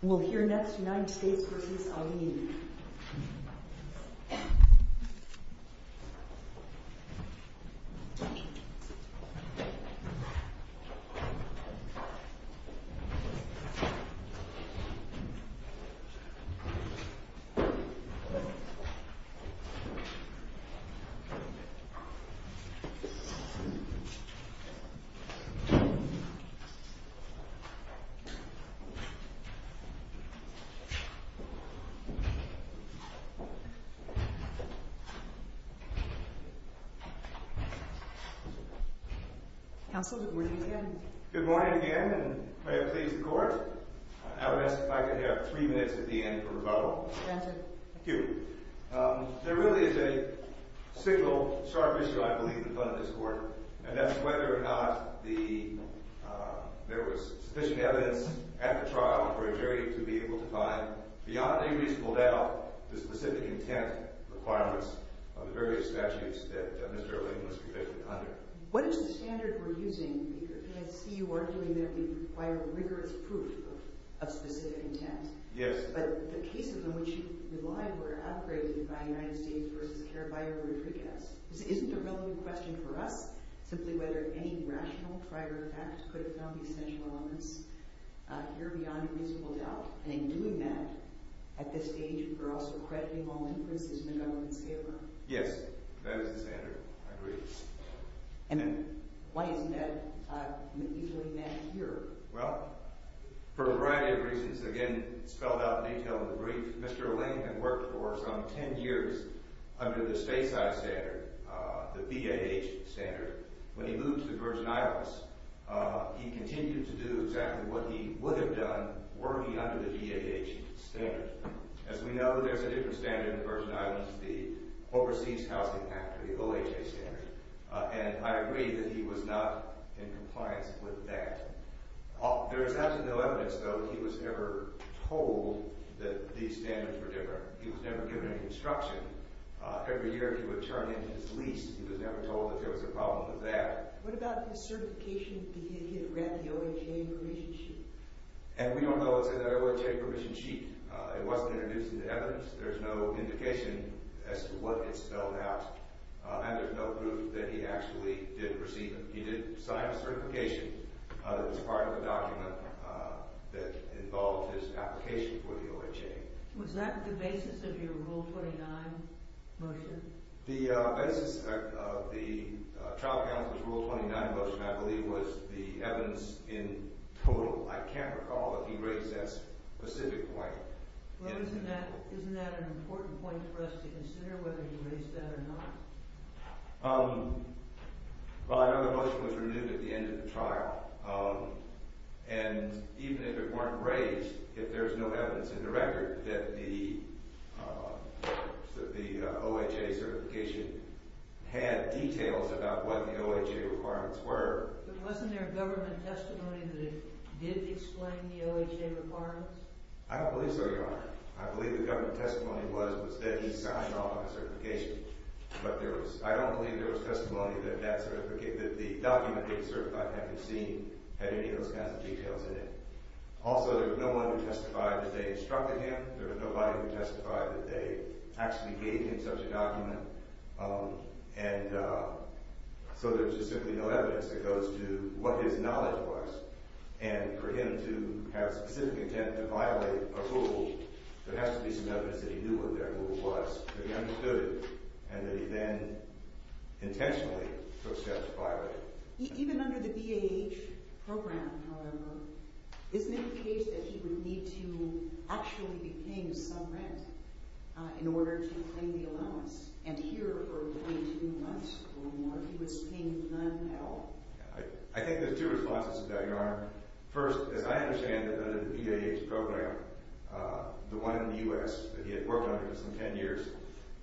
We'll hear next United States v. Alleyne. Good morning again, and may it please the Court. I would ask if I could have three minutes at the end for rebuttal. Granted. Thank you. There really is a single sharp issue, I believe, in front of this Court, and that's whether or not there was sufficient evidence at the trial for a jury to be able to find, beyond a reasonable doubt, the specific intent requirements of the various statutes that Mr. Alleyne was convicted under. What is the standard we're using? I see you arguing that we require rigorous proof of specific intent. Yes. But the cases in which you relied were outgraded by United States v. Caraballo-Rodriguez. Isn't the relevant question for us simply whether any rational, prior fact could have found the essential elements here beyond a reasonable doubt? And in doing that, at this stage, we're also crediting all inferences from the government's paper. Yes, that is the standard. I agree. And why isn't that easily met here? Well, for a variety of reasons. Again, spelled out in detail in the brief, Mr. Alleyne had worked for some ten years under the Stasi standard, the BAH standard. When he moved to the Virgin Islands, he continued to do exactly what he would have done working under the BAH standard. As we know, there's a different standard in the Virgin Islands, the Overseas Housing Act, or the OHA standard, and I agree that he was not in compliance with that. There is absolutely no evidence, though, that he was ever told that these standards were different. He was never given any instruction. Every year, if he would turn in his lease, he was never told that there was a problem with that. What about his certification? Did he have read the OHA permission sheet? And we don't know. It's in the OHA permission sheet. It wasn't introduced into evidence. There's no indication as to what it spelled out, and there's no proof that he actually did receive it. He did sign a certification that was part of a document that involved his application for the OHA. Was that the basis of your Rule 29 motion? The basis of the Tribal Council's Rule 29 motion, I believe, was the evidence in total. I can't recall that he raised that specific point. Isn't that an important point for us to consider, whether he raised that or not? Well, I know the motion was renewed at the end of the trial, and even if it weren't raised, if there's no evidence in the record that the OHA certification had details about what the OHA requirements were... But wasn't there a government testimony that it did explain the OHA requirements? I don't believe so, Your Honor. I believe the government testimony was that he signed an OHA certification, but there was... I don't believe there was testimony that the document he had certified had any of those kinds of details in it. Also, there was no one who testified that they instructed him. There was nobody who testified that they actually gave him such a document. And so there's just simply no evidence that goes to what his knowledge was. And for him to have specific intent to violate a Rule, there has to be some evidence that he knew what that Rule was, that he understood it, and that he then intentionally took steps to violate it. Even under the BAH program, however, isn't it the case that he would need to actually be paying some rent in order to claim the allowance? And here, for only two months or more, he was paying none at all. First, as I understand it, under the BAH program, the one in the U.S. that he had worked under for some ten years,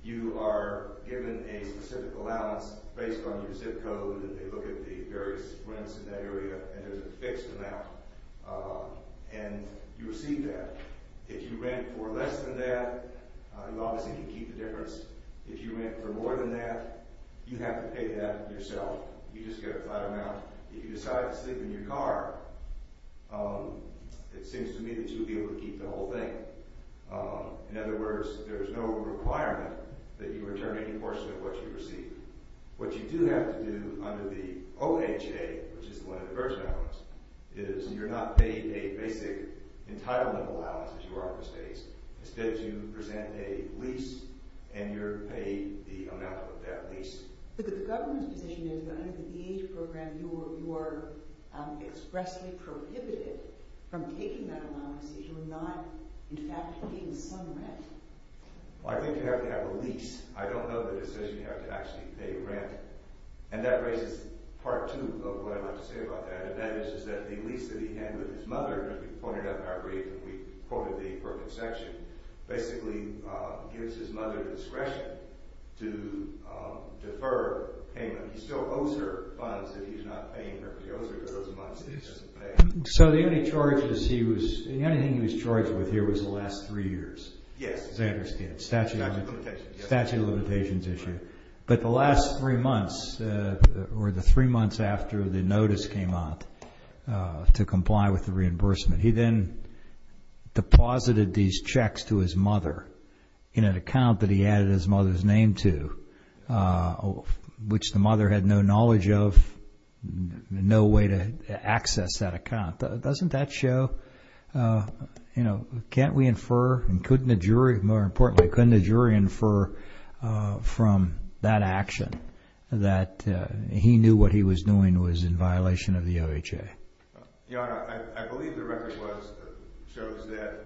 you are given a specific allowance based on your zip code, and they look at the various rents in that area, and there's a fixed amount. And you receive that. If you rent for less than that, you obviously can keep the difference. If you rent for more than that, you have to pay that yourself. You just get a flat amount. If you decide to sleep in your car, it seems to me that you would be able to keep the whole thing. In other words, there's no requirement that you return any portion of what you receive. What you do have to do under the OHA, which is the one in the Virgin Islands, is you're not paid a basic entitlement allowance, as you are in the States. Instead, you present a lease, and you're paid the amount of that lease. But the government's position is that under the BAH program, you are expressly prohibited from taking that allowance if you're not in fact paying some rent. Well, I think you have to have a lease. I don't know the decision you have to actually pay rent. And that raises part two of what I'd like to say about that, and that is that the lease that he had with his mother, as we pointed out in our brief when we quoted the permit basically gives his mother the discretion to defer payment. He still owes her funds that he's not paying her. She owes her girls money that she doesn't pay. So the only charges he was charged with here was the last three years? Yes. As I understand. Statute of limitations. Statute of limitations issue. But the last three months, or the three months after the notice came out to comply with the reimbursement, he then deposited these checks to his mother in an account that he added his mother's name to, which the mother had no knowledge of, no way to access that account. Doesn't that show, you know, can't we infer, and couldn't a jury, more importantly, couldn't a jury infer from that action that he knew what he was doing was in violation of the OHA? You know, I believe the record shows that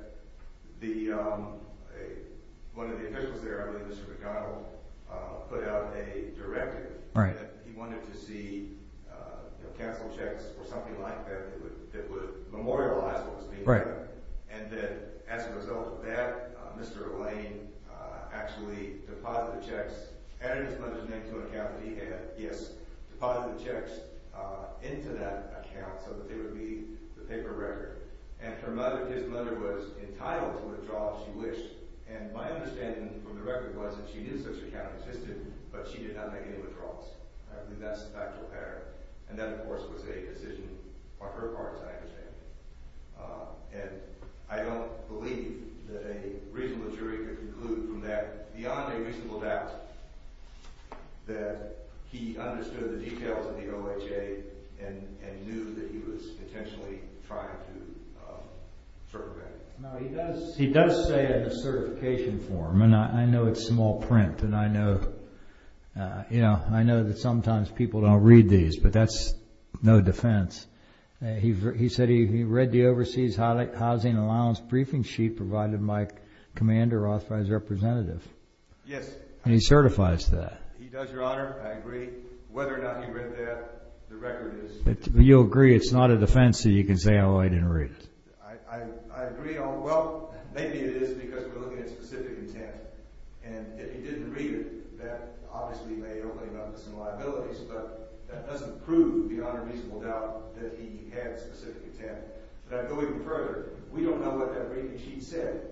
one of the officials there, I believe Mr. McConnell, put out a directive that he wanted to see, you know, cancel checks or something like that that would memorialize what was being done, and that as a result of that, Mr. Lane actually deposited the checks, added his mother's name to an account that he had, yes, deposited the checks into that account so that they would be the paper record. And her mother, his mother, was entitled to withdraw if she wished, and my understanding from the record was that she knew such an account existed, but she did not make any withdrawals. I believe that's the factual pattern. And that, of course, was a decision on her part, as I understand it. And I don't believe that a reasonable jury could conclude from that, that he understood the details of the OHA and knew that he was intentionally trying to circumvent it. No, he does say in a certification form, and I know it's small print, and I know that sometimes people don't read these, but that's no defense. He said he read the Overseas Housing Allowance Briefing Sheet provided by Commander Rothfeld's representative. Yes. And he certifies that. He does, Your Honor. I agree. Whether or not he read that, the record is— You'll agree it's not a defense so you can say, oh, I didn't read it. I agree on—well, maybe it is because we're looking at specific intent. And if he didn't read it, that obviously may open him up to some liabilities, but that doesn't prove beyond a reasonable doubt that he had specific intent. But going further, we don't know what that briefing sheet said.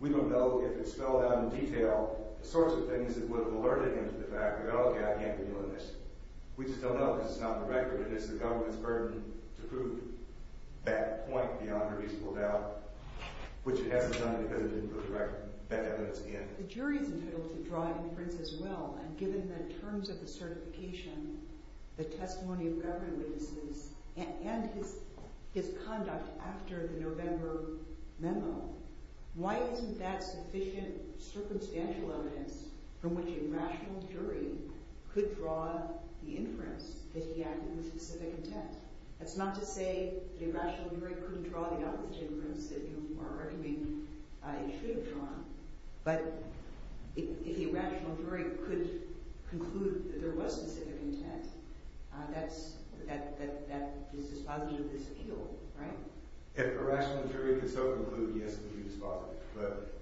We don't know if it spelled out in detail the sorts of things that would have alerted him to the fact, well, okay, I can't be doing this. We just don't know because it's not in the record, and it's the government's burden to prove that point beyond a reasonable doubt, which it hasn't done because it didn't put that evidence in. The jury is entitled to draw inference as well, and given the terms of the certification, the testimony of government witnesses, and his conduct after the November memo, why isn't that sufficient circumstantial evidence from which a rational jury could draw the inference that he acted with specific intent? That's not to say that a rational jury couldn't draw the opposite inference that you are arguing it should have drawn, but if a rational jury could conclude that there was specific intent, that is dispositive disappeal, right? If a rational jury could so conclude, yes, it would be dispositive, but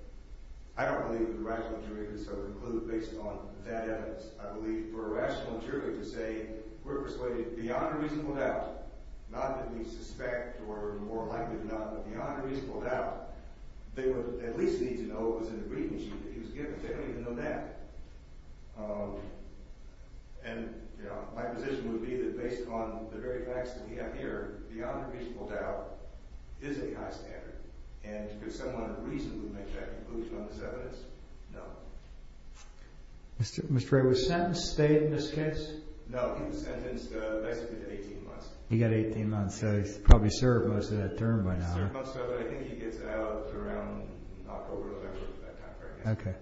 I don't believe that a rational jury could so conclude based on that evidence. I believe for a rational jury to say, we're persuaded beyond a reasonable doubt, not that we suspect or are more likely to know, but beyond a reasonable doubt, they would at least need to know what was in the reading sheet that he was given. They don't even know that. And my position would be that based on the very facts that we have here, beyond a reasonable doubt is a high standard, and could someone reasonably make that conclusion on this evidence? No. Mr. Ray, was sentence stayed in this case? No, he was sentenced basically to 18 months. He got 18 months, so he's probably served most of that term by now. He's served most of it. I think he gets out around October of that time, right? Okay.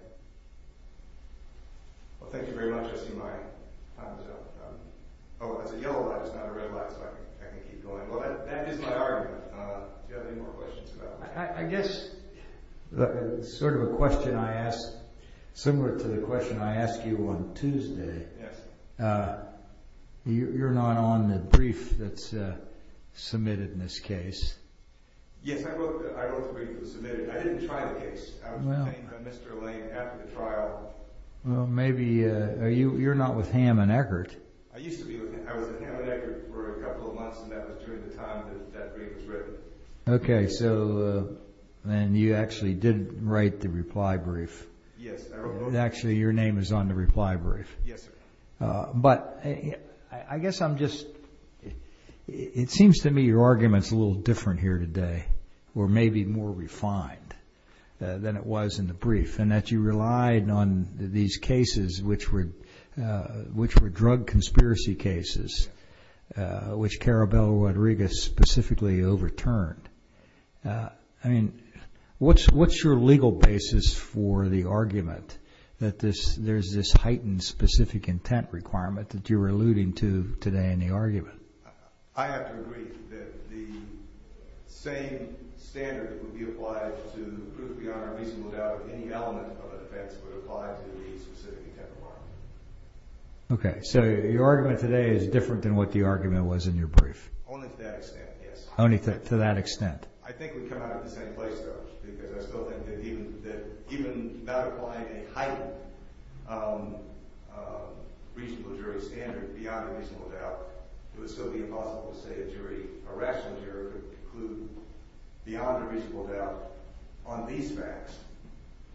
Well, thank you very much. I see my time is up. Oh, that's a yellow light, it's not a red light, so I can keep going. Well, that is my argument. Do you have any more questions about that? I guess sort of a question I asked, similar to the question I asked you on Tuesday. Yes. You're not on the brief that's submitted in this case. Yes, I wrote the brief that was submitted. I didn't try the case. I was detained by Mr. Lane after the trial. Well, maybe you're not with Hamm and Eckert. I used to be with them. I was with Hamm and Eckert for a couple of months, and that was during the time that that brief was written. Okay, so then you actually did write the reply brief. Yes, I wrote both. Actually, your name is on the reply brief. Yes, sir. But I guess I'm just, it seems to me your argument is a little different here today, or maybe more refined than it was in the brief, and that you relied on these cases, which were drug conspiracy cases, which Carabello Rodriguez specifically overturned. I mean, what's your legal basis for the argument that there's this heightened specific intent requirement that you were alluding to today in the argument? I have to agree that the same standard would be applied to the proof of the honor reason without any element of offense would apply to the specific intent requirement. Okay, so your argument today is different than what the argument was in your brief. Only to that extent, yes. Only to that extent. I think we come out of the same place, though, because I still think that even without applying a heightened reasonable jury standard beyond a reasonable doubt, it would still be impossible to say a jury, a rational jury, could conclude beyond a reasonable doubt on these facts,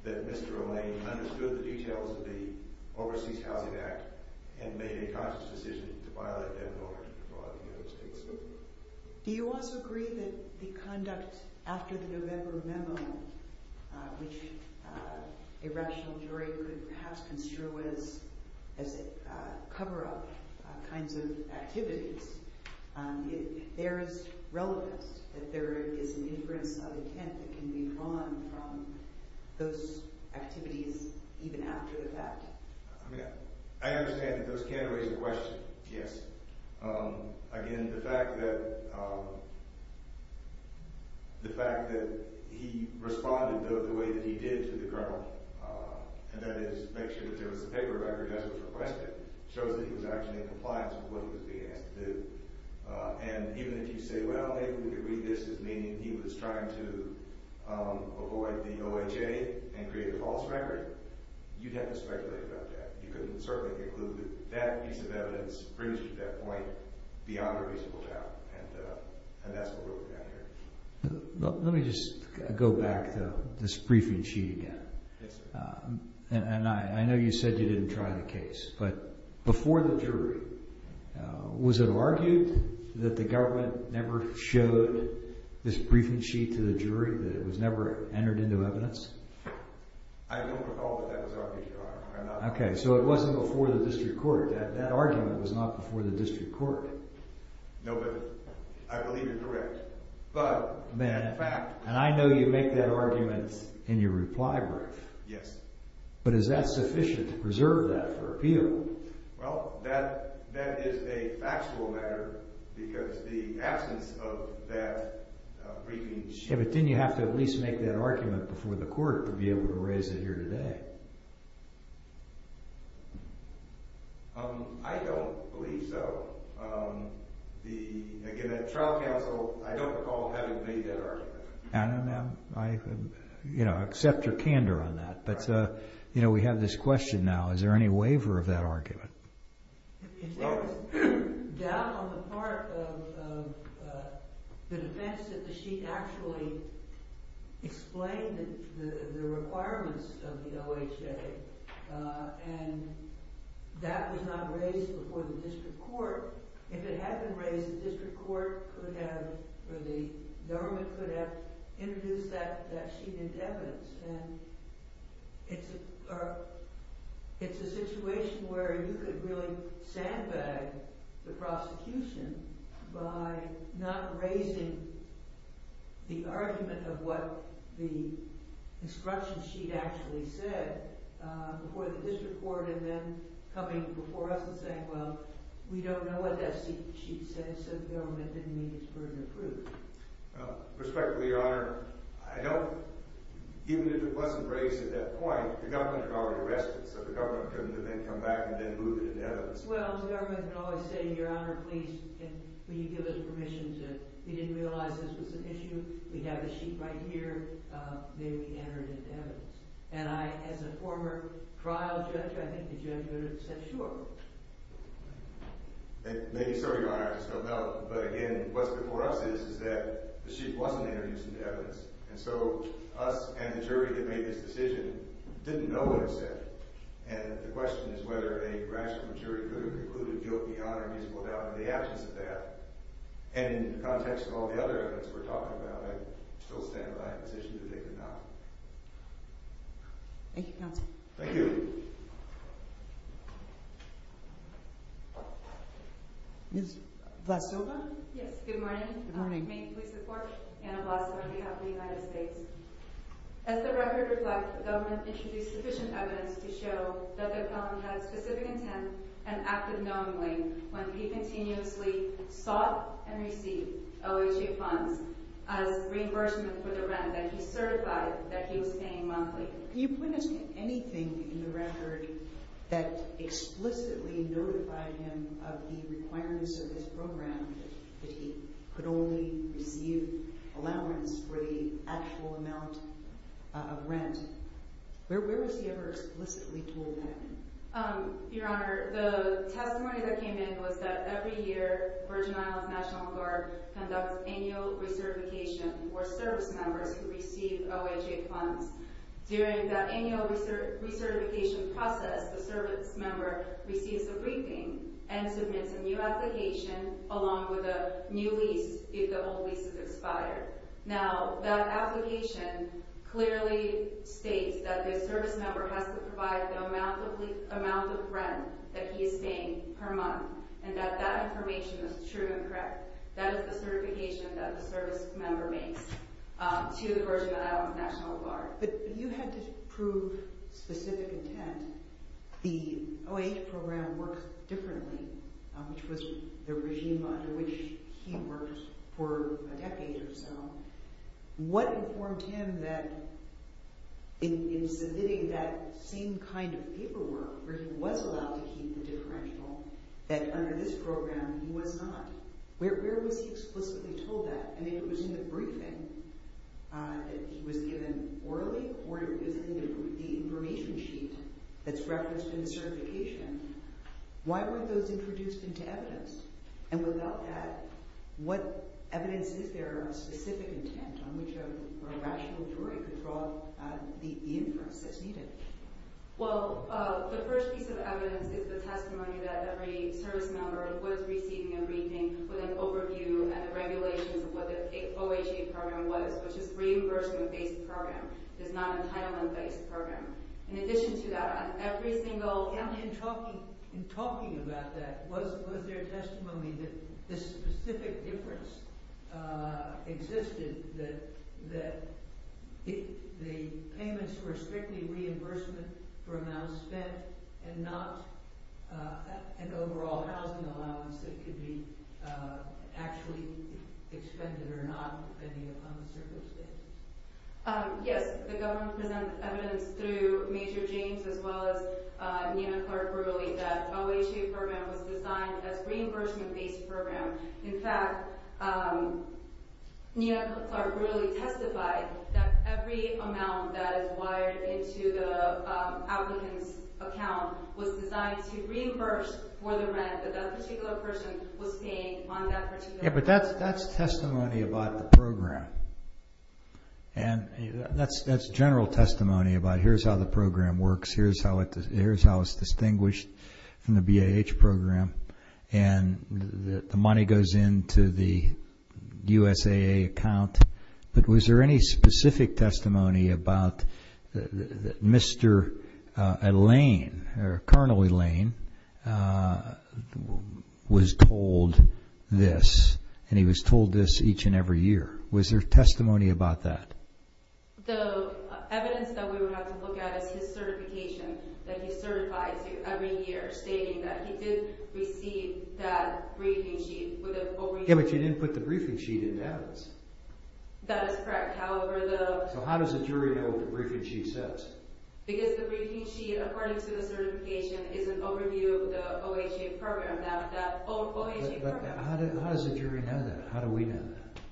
that Mr. O'Lane understood the details of the Overseas Housing Act and made a conscious decision to violate that law in the United States. Do you also agree that the conduct after the November memo, which a rational jury could perhaps construe as cover-up kinds of activities, there is relevance, that there is an inference of intent that can be drawn from those activities even after the fact? I mean, I understand that those categories are questioned, yes. Again, the fact that he responded the way that he did to the Colonel, and that is make sure that there was a paper record as was requested, shows that he was actually in compliance with what he was being asked to do. And even if you say, well, maybe we can read this as meaning he was trying to avoid the OHA and create a false record, you'd have to speculate about that. And you can certainly conclude that that piece of evidence brings you to that point beyond a reasonable doubt, and that's what we're looking at here. Let me just go back to this briefing sheet again. Yes, sir. And I know you said you didn't try the case, but before the jury, was it argued that the government never showed this briefing sheet to the jury, that it was never entered into evidence? I don't recall that that was argued, Your Honor. Okay, so it wasn't before the district court. That argument was not before the district court. No, but I believe you're correct. Man, and I know you make that argument in your reply brief. Yes. But is that sufficient to preserve that for appeal? Well, that is a factual matter because the absence of that briefing sheet... I don't believe so. Again, at trial counsel, I don't recall having made that argument. I accept your candor on that, but we have this question now. Is there any waiver of that argument? If there was doubt on the part of the defense, did the sheet actually explain the requirements of the OHA? And that was not raised before the district court. If it had been raised, the district court could have, or the government could have introduced that sheet into evidence. It's a situation where you could really sandbag the prosecution by not raising the argument of what the instruction sheet actually said before the district court, and then coming before us and saying, well, we don't know what that sheet says, so the government didn't need this burden of proof. Respectfully, Your Honor, I don't... Even if it wasn't raised at that point, the government had already arrested it, so the government couldn't have then come back and then moved it into evidence. Well, the government can always say, Your Honor, please, will you give us permission to... We didn't realize this was an issue. We have the sheet right here. May we enter it into evidence? And I, as a former trial judge, I think the judge would have said, sure. Maybe so, Your Honor. I just don't know. But again, what's before us is that the sheet wasn't introduced into evidence, and so us and the jury that made this decision didn't know what it said. And the question is whether a rational jury could have concluded guilt, beyond or musical doubt in the absence of that. And in the context of all the other evidence we're talking about, I still stand by the decision to take it not. Thank you, counsel. Thank you. Thank you. Ms. Vlasova? Yes, good morning. Good morning. May you please report? Anna Vlasova, behalf of the United States. As the record reflects, the government introduced sufficient evidence to show that the felon had specific intent and acted knowingly when he continuously sought and received OHA funds as reimbursement for the rent that he certified that he was paying monthly. Can you point us to anything in the record that explicitly notified him of the requirements of his program, that he could only receive allowances for the actual amount of rent? Where was he ever explicitly told that? Your Honor, the testimony that came in was that every year, Virgin Islands National Park conducts annual recertification for service members who receive OHA funds. During that annual recertification process, the service member receives a briefing and submits a new application along with a new lease if the old lease is expired. Now, that application clearly states that the service member has to provide the amount of rent that he is paying per month, and that that information is true and correct. That is the certification that the service member makes to the Virgin Islands National Park. But you had to prove specific intent. The OHA program works differently, which was the regime under which he worked for a decade or so. What informed him that in submitting that same kind of paperwork, where he was allowed to keep the differential, that under this program he was not? Where was he explicitly told that? And if it was in the briefing that he was given orally or if it was in the information sheet that's referenced in the certification, why were those introduced into evidence? And without that, what evidence is there on specific intent on which a rational jury could draw the inference that's needed? Well, the first piece of evidence is the testimony that every service member was receiving a briefing with an overview and regulations of what the OHA program was, which is a reimbursement-based program. It's not an entitlement-based program. In addition to that, every single... In talking about that, was there testimony that this specific inference existed that the payments were strictly reimbursement for amounts spent and not an overall housing allowance that could be actually expended or not, I think, upon the circumstance? Yes. The government presented evidence through Major James as well as Nina Clark Brewerly that the OHA program was designed as a reimbursement-based program. In fact, Nina Clark Brewerly testified that every amount that is wired into the applicant's account was designed to reimburse for the rent that that particular person was paying on that particular... Yes, but that's testimony about the program. And that's general testimony about here's how the program works, here's how it's distinguished from the BAH program, and the money goes into the USAA account. But was there any specific testimony about Mr. Lane or Colonel Lane was told this, and he was told this each and every year? Was there testimony about that? The evidence that we would have to look at is his certification that he's certified to every year, stating that he did receive that briefing sheet. Yeah, but you didn't put the briefing sheet in that. That is correct. However, the... So how does a jury know what the briefing sheet says? Because the briefing sheet, according to the certification, is an overview of the OHA program. But how does a jury know that? How do we know that?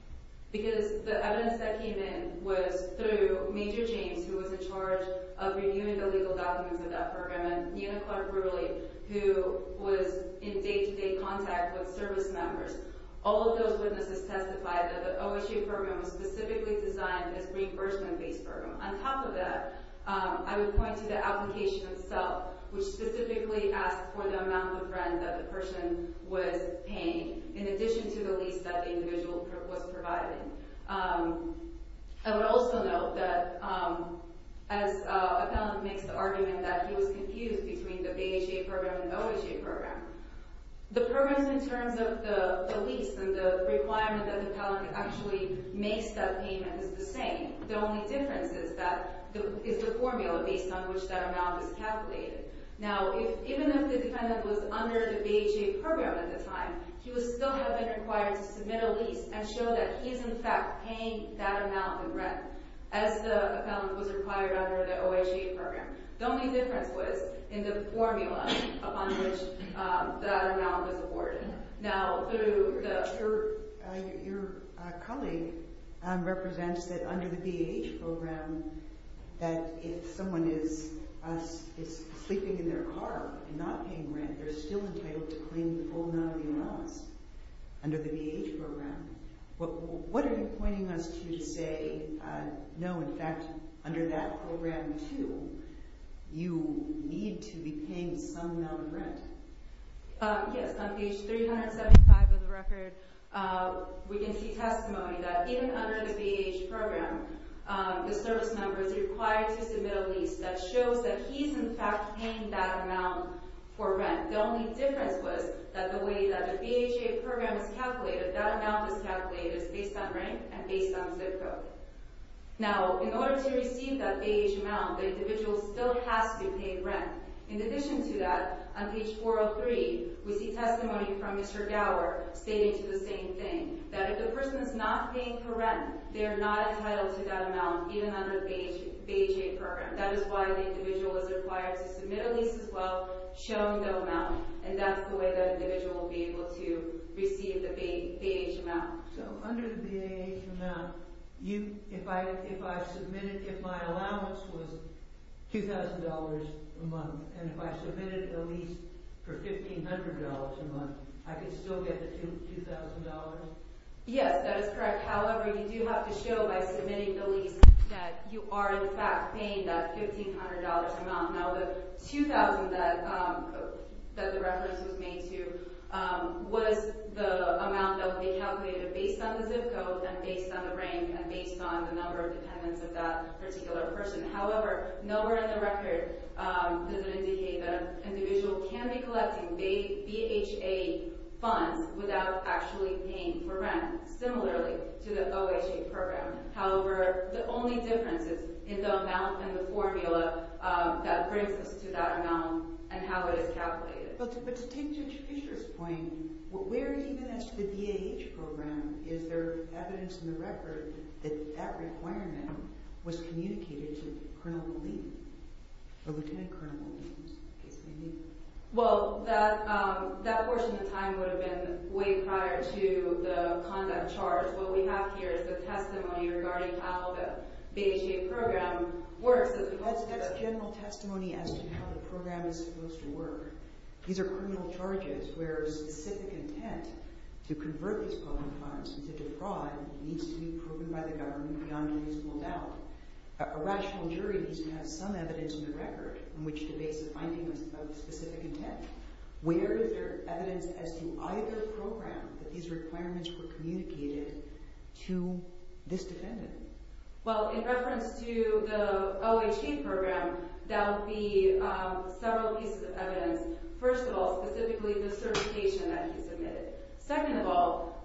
Because the evidence that came in was through Major James, who was in charge of reviewing the legal documents of that program, and Nina Clark Brewerly, who was in day-to-day contact with service members. All of those witnesses testified that the OHA program was specifically designed as a reimbursement-based program. On top of that, I would point to the application itself, which specifically asked for the amount of rent that the person was paying, in addition to the lease that the individual was providing. I would also note that, as a palant makes the argument that he was confused between the BHA program and the OHA program, the programs in terms of the lease and the requirement that the palant actually makes that payment is the same. The only difference is the formula based on which that amount is calculated. Now, even if the defendant was under the BHA program at the time, he would still have been required to submit a lease and show that he is, in fact, paying that amount of rent, as the palant was required under the OHA program. The only difference was in the formula upon which that amount was awarded. Your colleague represents that under the BHA program, that if someone is sleeping in their car and not paying rent, they're still entitled to claim the full amount of the amounts under the BHA program. What are you pointing us to to say, no, in fact, under that program too, you need to be paying some amount of rent? Yes, on page 375 of the record, we can see testimony that even under the BHA program, the service number is required to submit a lease that shows that he's, in fact, paying that amount for rent. The only difference was that the way that the BHA program is calculated, that amount is calculated based on rent and based on zip code. Now, in order to receive that BHA amount, the individual still has to pay rent. In addition to that, on page 403, we see testimony from Mr. Gower stating the same thing, that if the person is not paying for rent, they're not entitled to that amount even under the BHA program. That is why the individual is required to submit a lease as well, showing the amount, and that's the way the individual will be able to receive the BHA amount. So, under the BHA amount, if I submitted, if my allowance was $2,000 a month, and if I submitted a lease for $1,500 a month, I could still get the $2,000? Yes, that is correct. However, you do have to show by submitting the lease that you are, in fact, paying that $1,500 amount. Now, the $2,000 that the reference was made to was the amount that would be calculated based on the zip code and based on the rank and based on the number of dependents of that particular person. However, nowhere in the record does it indicate that an individual can be collecting BHA funds without actually paying for rent, similarly to the OHA program. However, the only difference is in the amount and the formula But to take Judge Fischer's point, where even as to the BAH program, is there evidence in the record that that requirement was communicated to Colonel McLean, or Lieutenant Colonel McLean, in case I'm mistaken? Well, that portion of time would have been way prior to the conduct charge. What we have here is the testimony regarding how the BHA program works. That's general testimony as to how the program is supposed to work. These are criminal charges where specific intent to convert these programs into fraud needs to be proven by the government beyond a reasonable doubt. A rational jury needs to have some evidence in the record on which to base the finding of specific intent. Where is there evidence as to either program that these requirements were communicated to this defendant? Well, in reference to the OHA program, that would be several pieces of evidence. First of all, specifically the certification that he submitted. Second of all,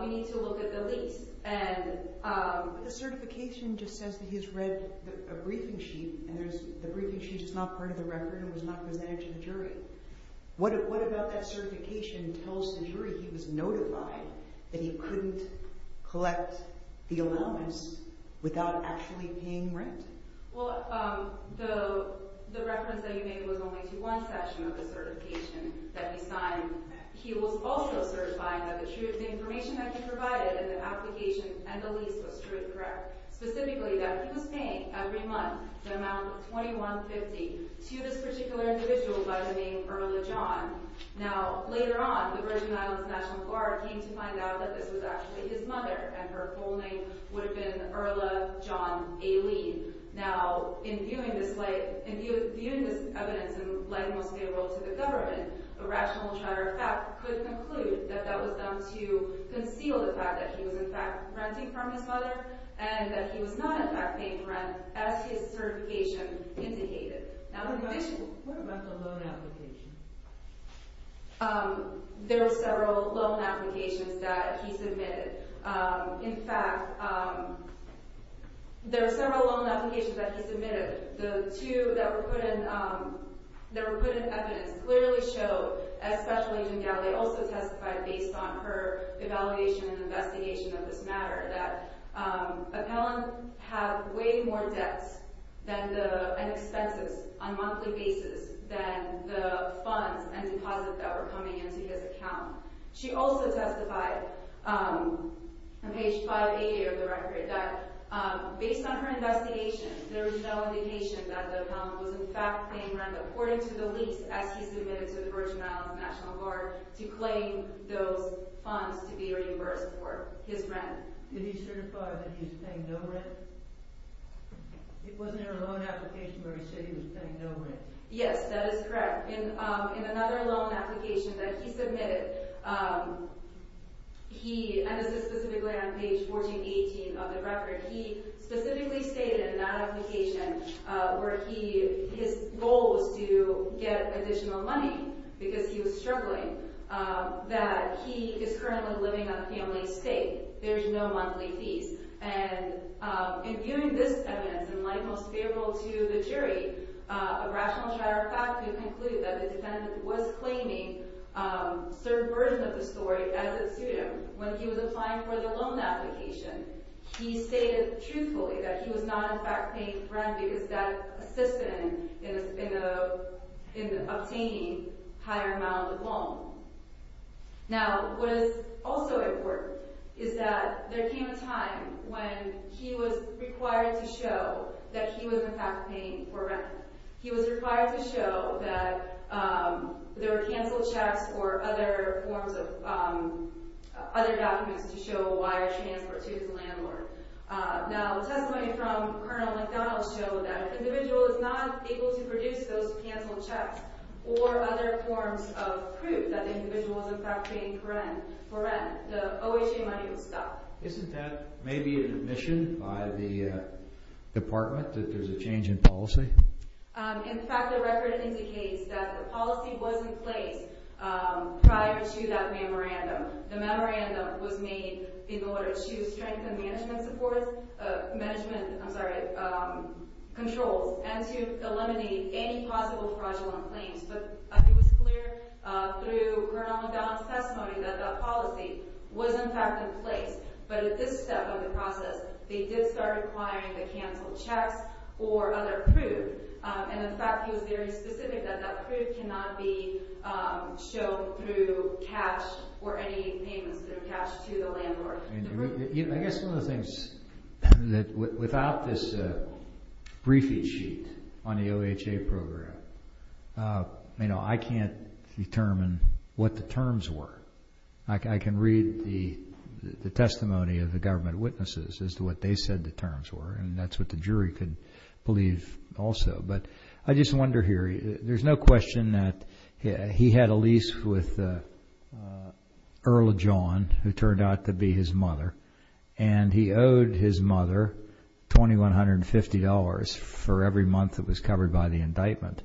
we need to look at the lease. The certification just says that he's read a briefing sheet, and the briefing sheet is not part of the record and was not presented to the jury. What about that certification tells the jury he was notified that he couldn't collect the allowance without actually paying rent? Well, the reference that you made was only to one section of the certification that he signed. He was also certifying that the information that he provided in the application and the lease was truly correct, specifically that he was paying every month the amount of $21.50 to this particular individual by the name Erla John. Now, later on, the Virgin Islands National Guard came to find out that this was actually his mother, and her full name would have been Erla John A. Lee. Now, in viewing this evidence and laying most of it to the government, a rational charter of fact could conclude that that was done to conceal the fact that he was in fact renting from his mother and that he was not in fact paying rent as his certification indicated. What about the loan application? There were several loan applications that he submitted. In fact, there were several loan applications that he submitted. The two that were put in evidence clearly showed, as Special Agent Gally also testified based on her evaluation and investigation of this matter, that Appellant had way more debts and expenses on a monthly basis than the funds and deposits that were coming into his account. She also testified on page 588 of the record that based on her investigation, there was no indication that Appellant was in fact paying rent according to the lease as he submitted to the Virgin Islands National Guard to claim those funds to be reimbursed for his rent. Did he certify that he was paying no rent? Wasn't there a loan application where he said he was paying no rent? Yes, that is correct. In another loan application that he submitted, and this is specifically on page 1418 of the record, he specifically stated in that application where his goal was to get additional money because he was struggling, that he is currently living on a family estate. There is no monthly fees. And in viewing this evidence in light most favorable to the jury, a rational trier of fact would conclude that the defendant was claiming a certain version of the story as it suited him. When he was applying for the loan application, he stated truthfully that he was not in fact paying rent because that assisted in obtaining a higher amount of the loan. Now, what is also important is that there came a time when he was required to show that he was in fact paying for rent. He was required to show that there were canceled checks or other documents to show a wire transfer to his landlord. Now, a testimony from Colonel McDonald showed that if an individual is not able to produce those canceled checks or other forms of proof that the individual was in fact paying for rent, the OHA money would stop. Isn't that maybe an admission by the department that there's a change in policy? In fact, the record indicates that the policy wasn't placed prior to that memorandum. The memorandum was made in order to strengthen management controls and to eliminate any possible fraudulent claims. But it was clear through Colonel McDonald's testimony that that policy was in fact in place. But at this step of the process, they did start requiring the canceled checks or other proof. And in fact, he was very specific that that proof cannot be shown through cash or any payments that are cashed to the landlord. I guess one of the things that without this briefing sheet on the OHA program, I can't determine what the terms were. I can read the testimony of the government witnesses as to what they said the terms were, and that's what the jury could believe also. But I just wonder here, there's no question that he had a lease with Earl John, who turned out to be his mother, and he owed his mother $2,150 for every month that was covered by the indictment.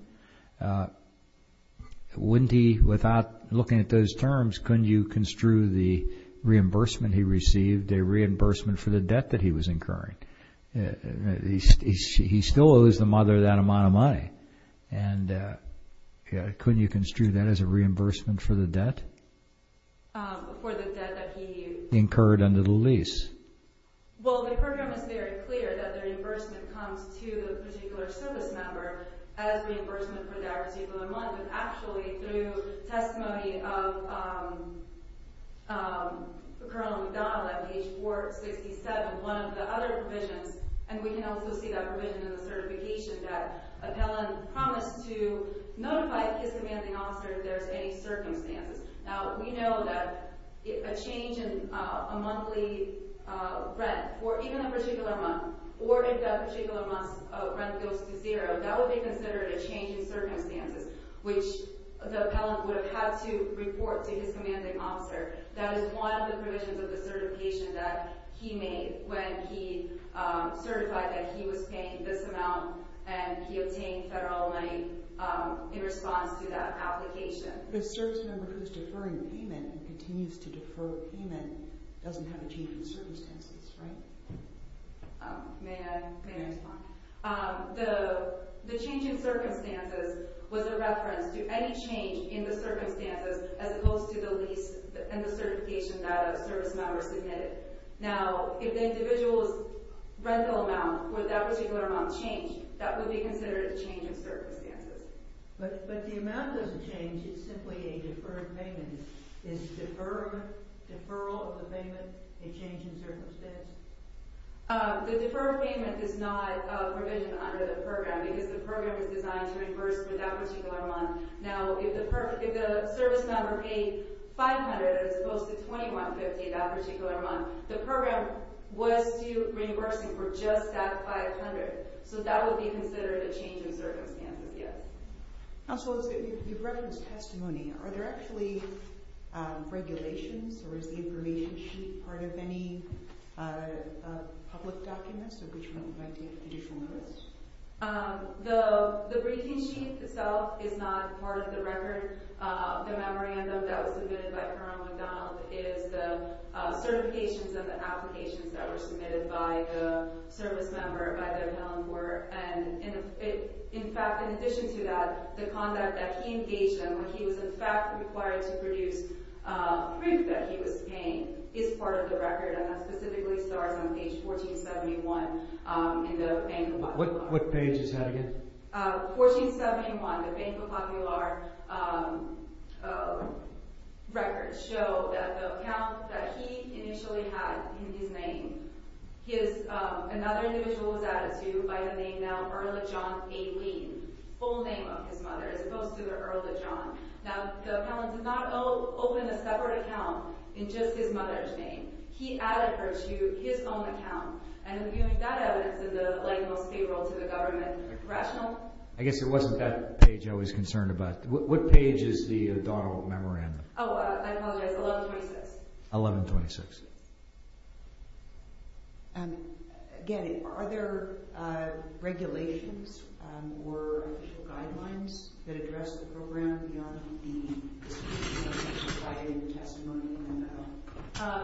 Wouldn't he, without looking at those terms, couldn't you construe the reimbursement he received a reimbursement for the debt that he was incurring? He still owes the mother that amount of money. And couldn't you construe that as a reimbursement for the debt? For the debt that he used. Incurred under the lease. Well, the program is very clear that the reimbursement comes to the particular service member as reimbursement for that particular month. And actually, through testimony of Colonel McDonald at page 467, one of the other provisions, and we can also see that provision in the certification, that appellant promised to notify his commanding officer if there's any circumstances. Now, we know that a change in a monthly rent for even a particular month, or if that particular month's rent goes to zero, that would be considered a change in circumstances, which the appellant would have had to report to his commanding officer. That is one of the provisions of the certification that he made when he certified that he was paying this amount and he obtained federal money in response to that application. The service member who's deferring the payment and continues to defer the payment doesn't have a change in circumstances, right? May I respond? The change in circumstances was a reference to any change in the circumstances as opposed to the lease and the certification that a service member submitted. Now, if the individual's rental amount for that particular month changed, that would be considered a change in circumstances. But the amount of the change is simply a deferred payment. Is deferral of the payment a change in circumstance? The deferred payment is not a provision under the program because the program is designed to reimburse for that particular month. Now, if the service member paid $500 as opposed to $2150 that particular month, the program was reimbursing for just that $500, so that would be considered a change in circumstances, yes. Now, so you've referenced testimony. Are there actually regulations or is the information sheet part of any public documents or additional notice? The briefing sheet itself is not part of the record. The memorandum that was submitted by Kerr on McDonald is the certifications and the applications that were submitted by the service member, by the appellant court. In fact, in addition to that, the conduct that he engaged in, when he was in fact required to produce proof that he was paying, is part of the record, and that specifically starts on page 1471 in the Bank of Popular. What page is that again? 1471, the Bank of Popular records show that the account that he initially had in his name, another individual was added to by the name now Earl of John A. Lee, full name of his mother, as opposed to the Earl of John. Now, the appellant did not open a separate account in just his mother's name. He added her to his own account. And viewing that evidence in the light most favorable to the government rational... I guess it wasn't that page I was concerned about. What page is the O'Donnell Memorandum? Oh, I apologize, 1126. 1126. Again, are there regulations or guidelines that address the program beyond the testimony?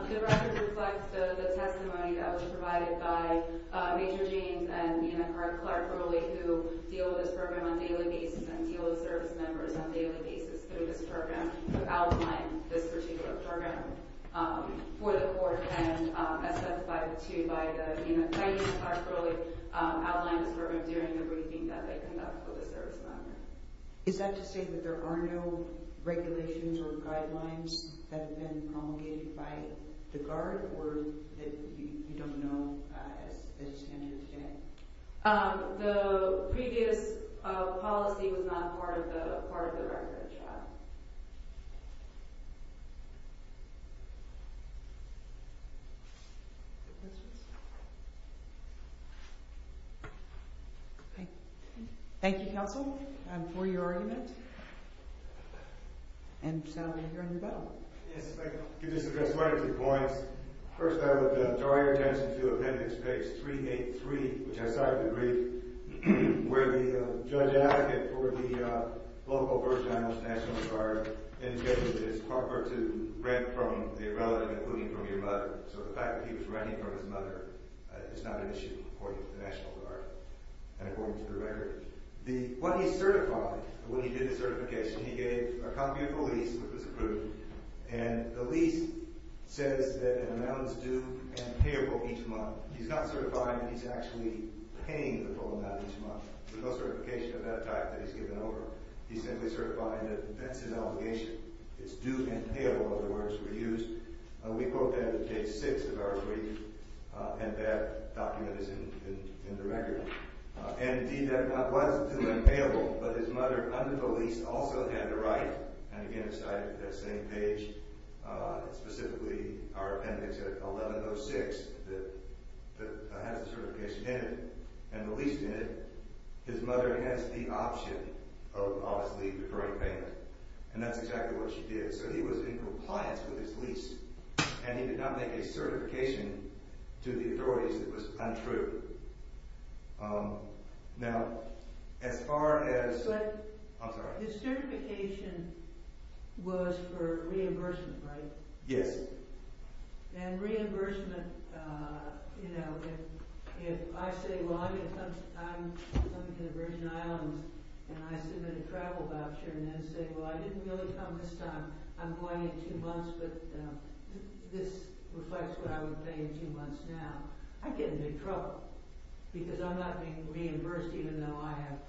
The record reflects the testimony that was provided by Major Jeans and Nina Clark, who deal with this program on a daily basis and deal with service members on a daily basis through this program, who outline this particular program for the court. And as testified to by Nina Clark earlier, outlined this program during the briefing that they conduct for the service members. Is that to say that there are no regulations or guidelines that have been promulgated by the Guard or that you don't know as it's entered today? The previous policy was not part of the record, yeah. Thank you, counsel, for your argument. And, Sal, you're on your bow. Yes, if I could just address one or two points. First, I would draw your attention to Appendix Page 383, which I cited in the brief, where the judge advocate for the local first general's National Guard indicated that it's improper to rent from the relative, including from your mother. So the fact that he was renting from his mother is not an issue according to the National Guard and according to the record. What he certified when he did the certification, he gave a copy of the lease, which was approved, and the lease says that an amount is due and payable each month. He's not certifying that he's actually paying the full amount each month. There's no certification of that type that he's given over. He's simply certifying that that's his obligation. It's due and payable are the words that were used. We quote that in Page 6 of our brief, and that document is in the record. Indeed, that was due and payable, but his mother, under the lease, also had to write, and again, I cited that same page, specifically our Appendix 1106 that has the certification in it, and the lease did. His mother has the option of, obviously, deferring payment, and that's exactly what she did. So he was in compliance with his lease, and he did not make a certification to the authorities that was untrue. I'm sorry. The certification was for reimbursement, right? Yes. And reimbursement, you know, if I say, well, I'm coming to the Virgin Islands, and I submit a travel voucher, and then say, well, I didn't really come this time. I'm going in two months, but this reflects what I would pay in two months now. I'd get in big trouble because I'm not being reimbursed even though I have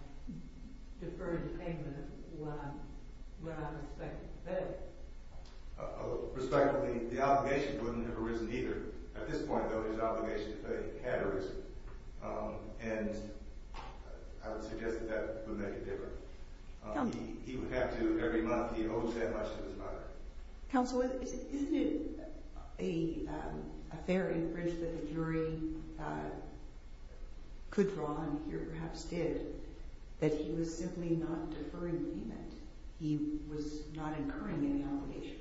deferred payment of what I'm expected to pay. Respectfully, the obligation wouldn't have arisen either. At this point, though, his obligation to pay had arisen, and I would suggest that that would make a difference. He would have to every month. He owes that much to his mother. Counsel, isn't it a fair inference that the jury could draw on, or perhaps did, that he was simply not deferring payment? He was not incurring any obligation.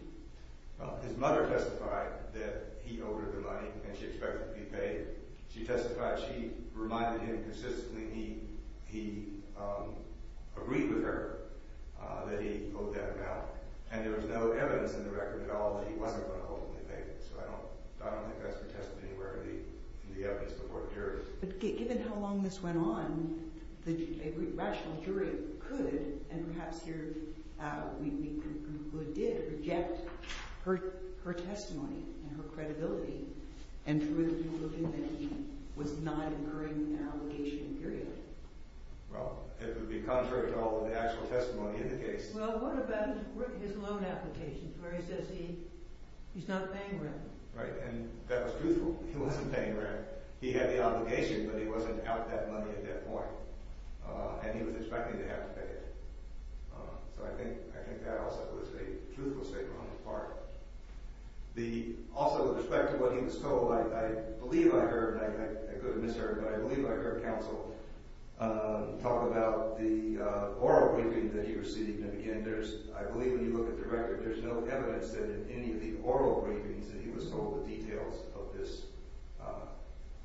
Well, his mother testified that he owed her the money, and she expected to be paid. She testified she reminded him consistently he agreed with her that he owed that amount, and there was no evidence in the record at all that he wasn't going to hopefully pay. So I don't think that's contested anywhere in the evidence before the jury. But given how long this went on, a rational jury could, and perhaps here we conclude did, reject her testimony and her credibility, and prove to him that he was not incurring an obligation, period. Well, it would be contrary to all of the actual testimony in the case. Well, what about his loan application, where he says he's not paying rent? Right, and that was truthful. He wasn't paying rent. He had the obligation, but he wasn't out that money at that point, and he was expecting to have to pay it. So I think that also was a truthful statement on his part. Also, with respect to what he was told, I believe I heard, and I could have misheard, but I believe I heard counsel talk about the oral briefing that he received, and again, I believe when you look at the record, there's no evidence that in any of the oral briefings that he was told the details of this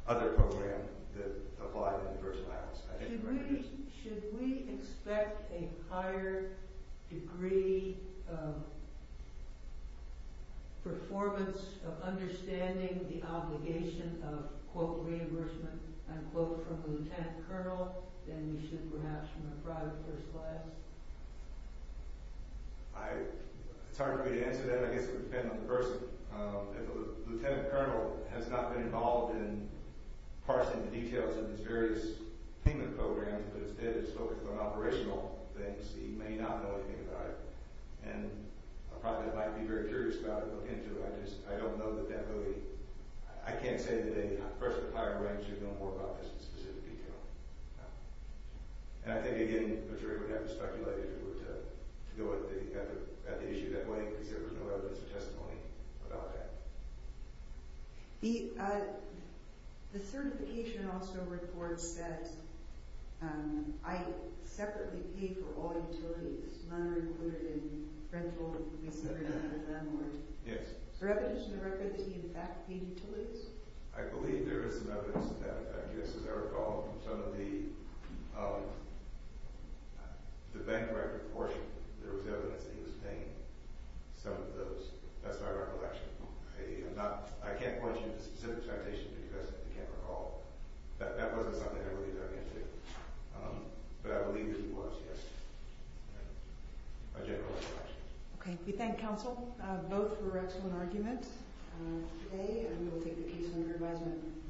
other program that applied in the personal accounts. Should we expect a higher degree of performance of understanding the obligation of, quote, reimbursement, unquote, from the lieutenant colonel than we should perhaps from the private personal assets? It's hard for me to answer that. I guess it would depend on the person. If a lieutenant colonel has not been involved in parsing the details of his various payment programs, but instead is focused on operational things, he may not know anything about it. And a private might be very curious about it, look into it. I just don't know that that would be – I can't say that a person of higher rank should know more about this in specific detail. And I think, again, I'm sure he would have to speculate if he were to go at the issue that way because there was no evidence of testimony about that. The certification also reports that Ike separately paid for all utilities, not only included in rental and lease agreements with landlords. Yes. Is there evidence in the record that he in fact paid utilities? I believe there is some evidence of that. I guess as I recall from some of the bank record portion, there was evidence that he was paying. Some of those. That's my recollection. I can't point you to specific citations because I can't recall. That wasn't something I really dug into. But I believe that he was, yes. My general recollection. Okay. We thank counsel. Both for an excellent argument. Today, I'm going to take the case under advisement.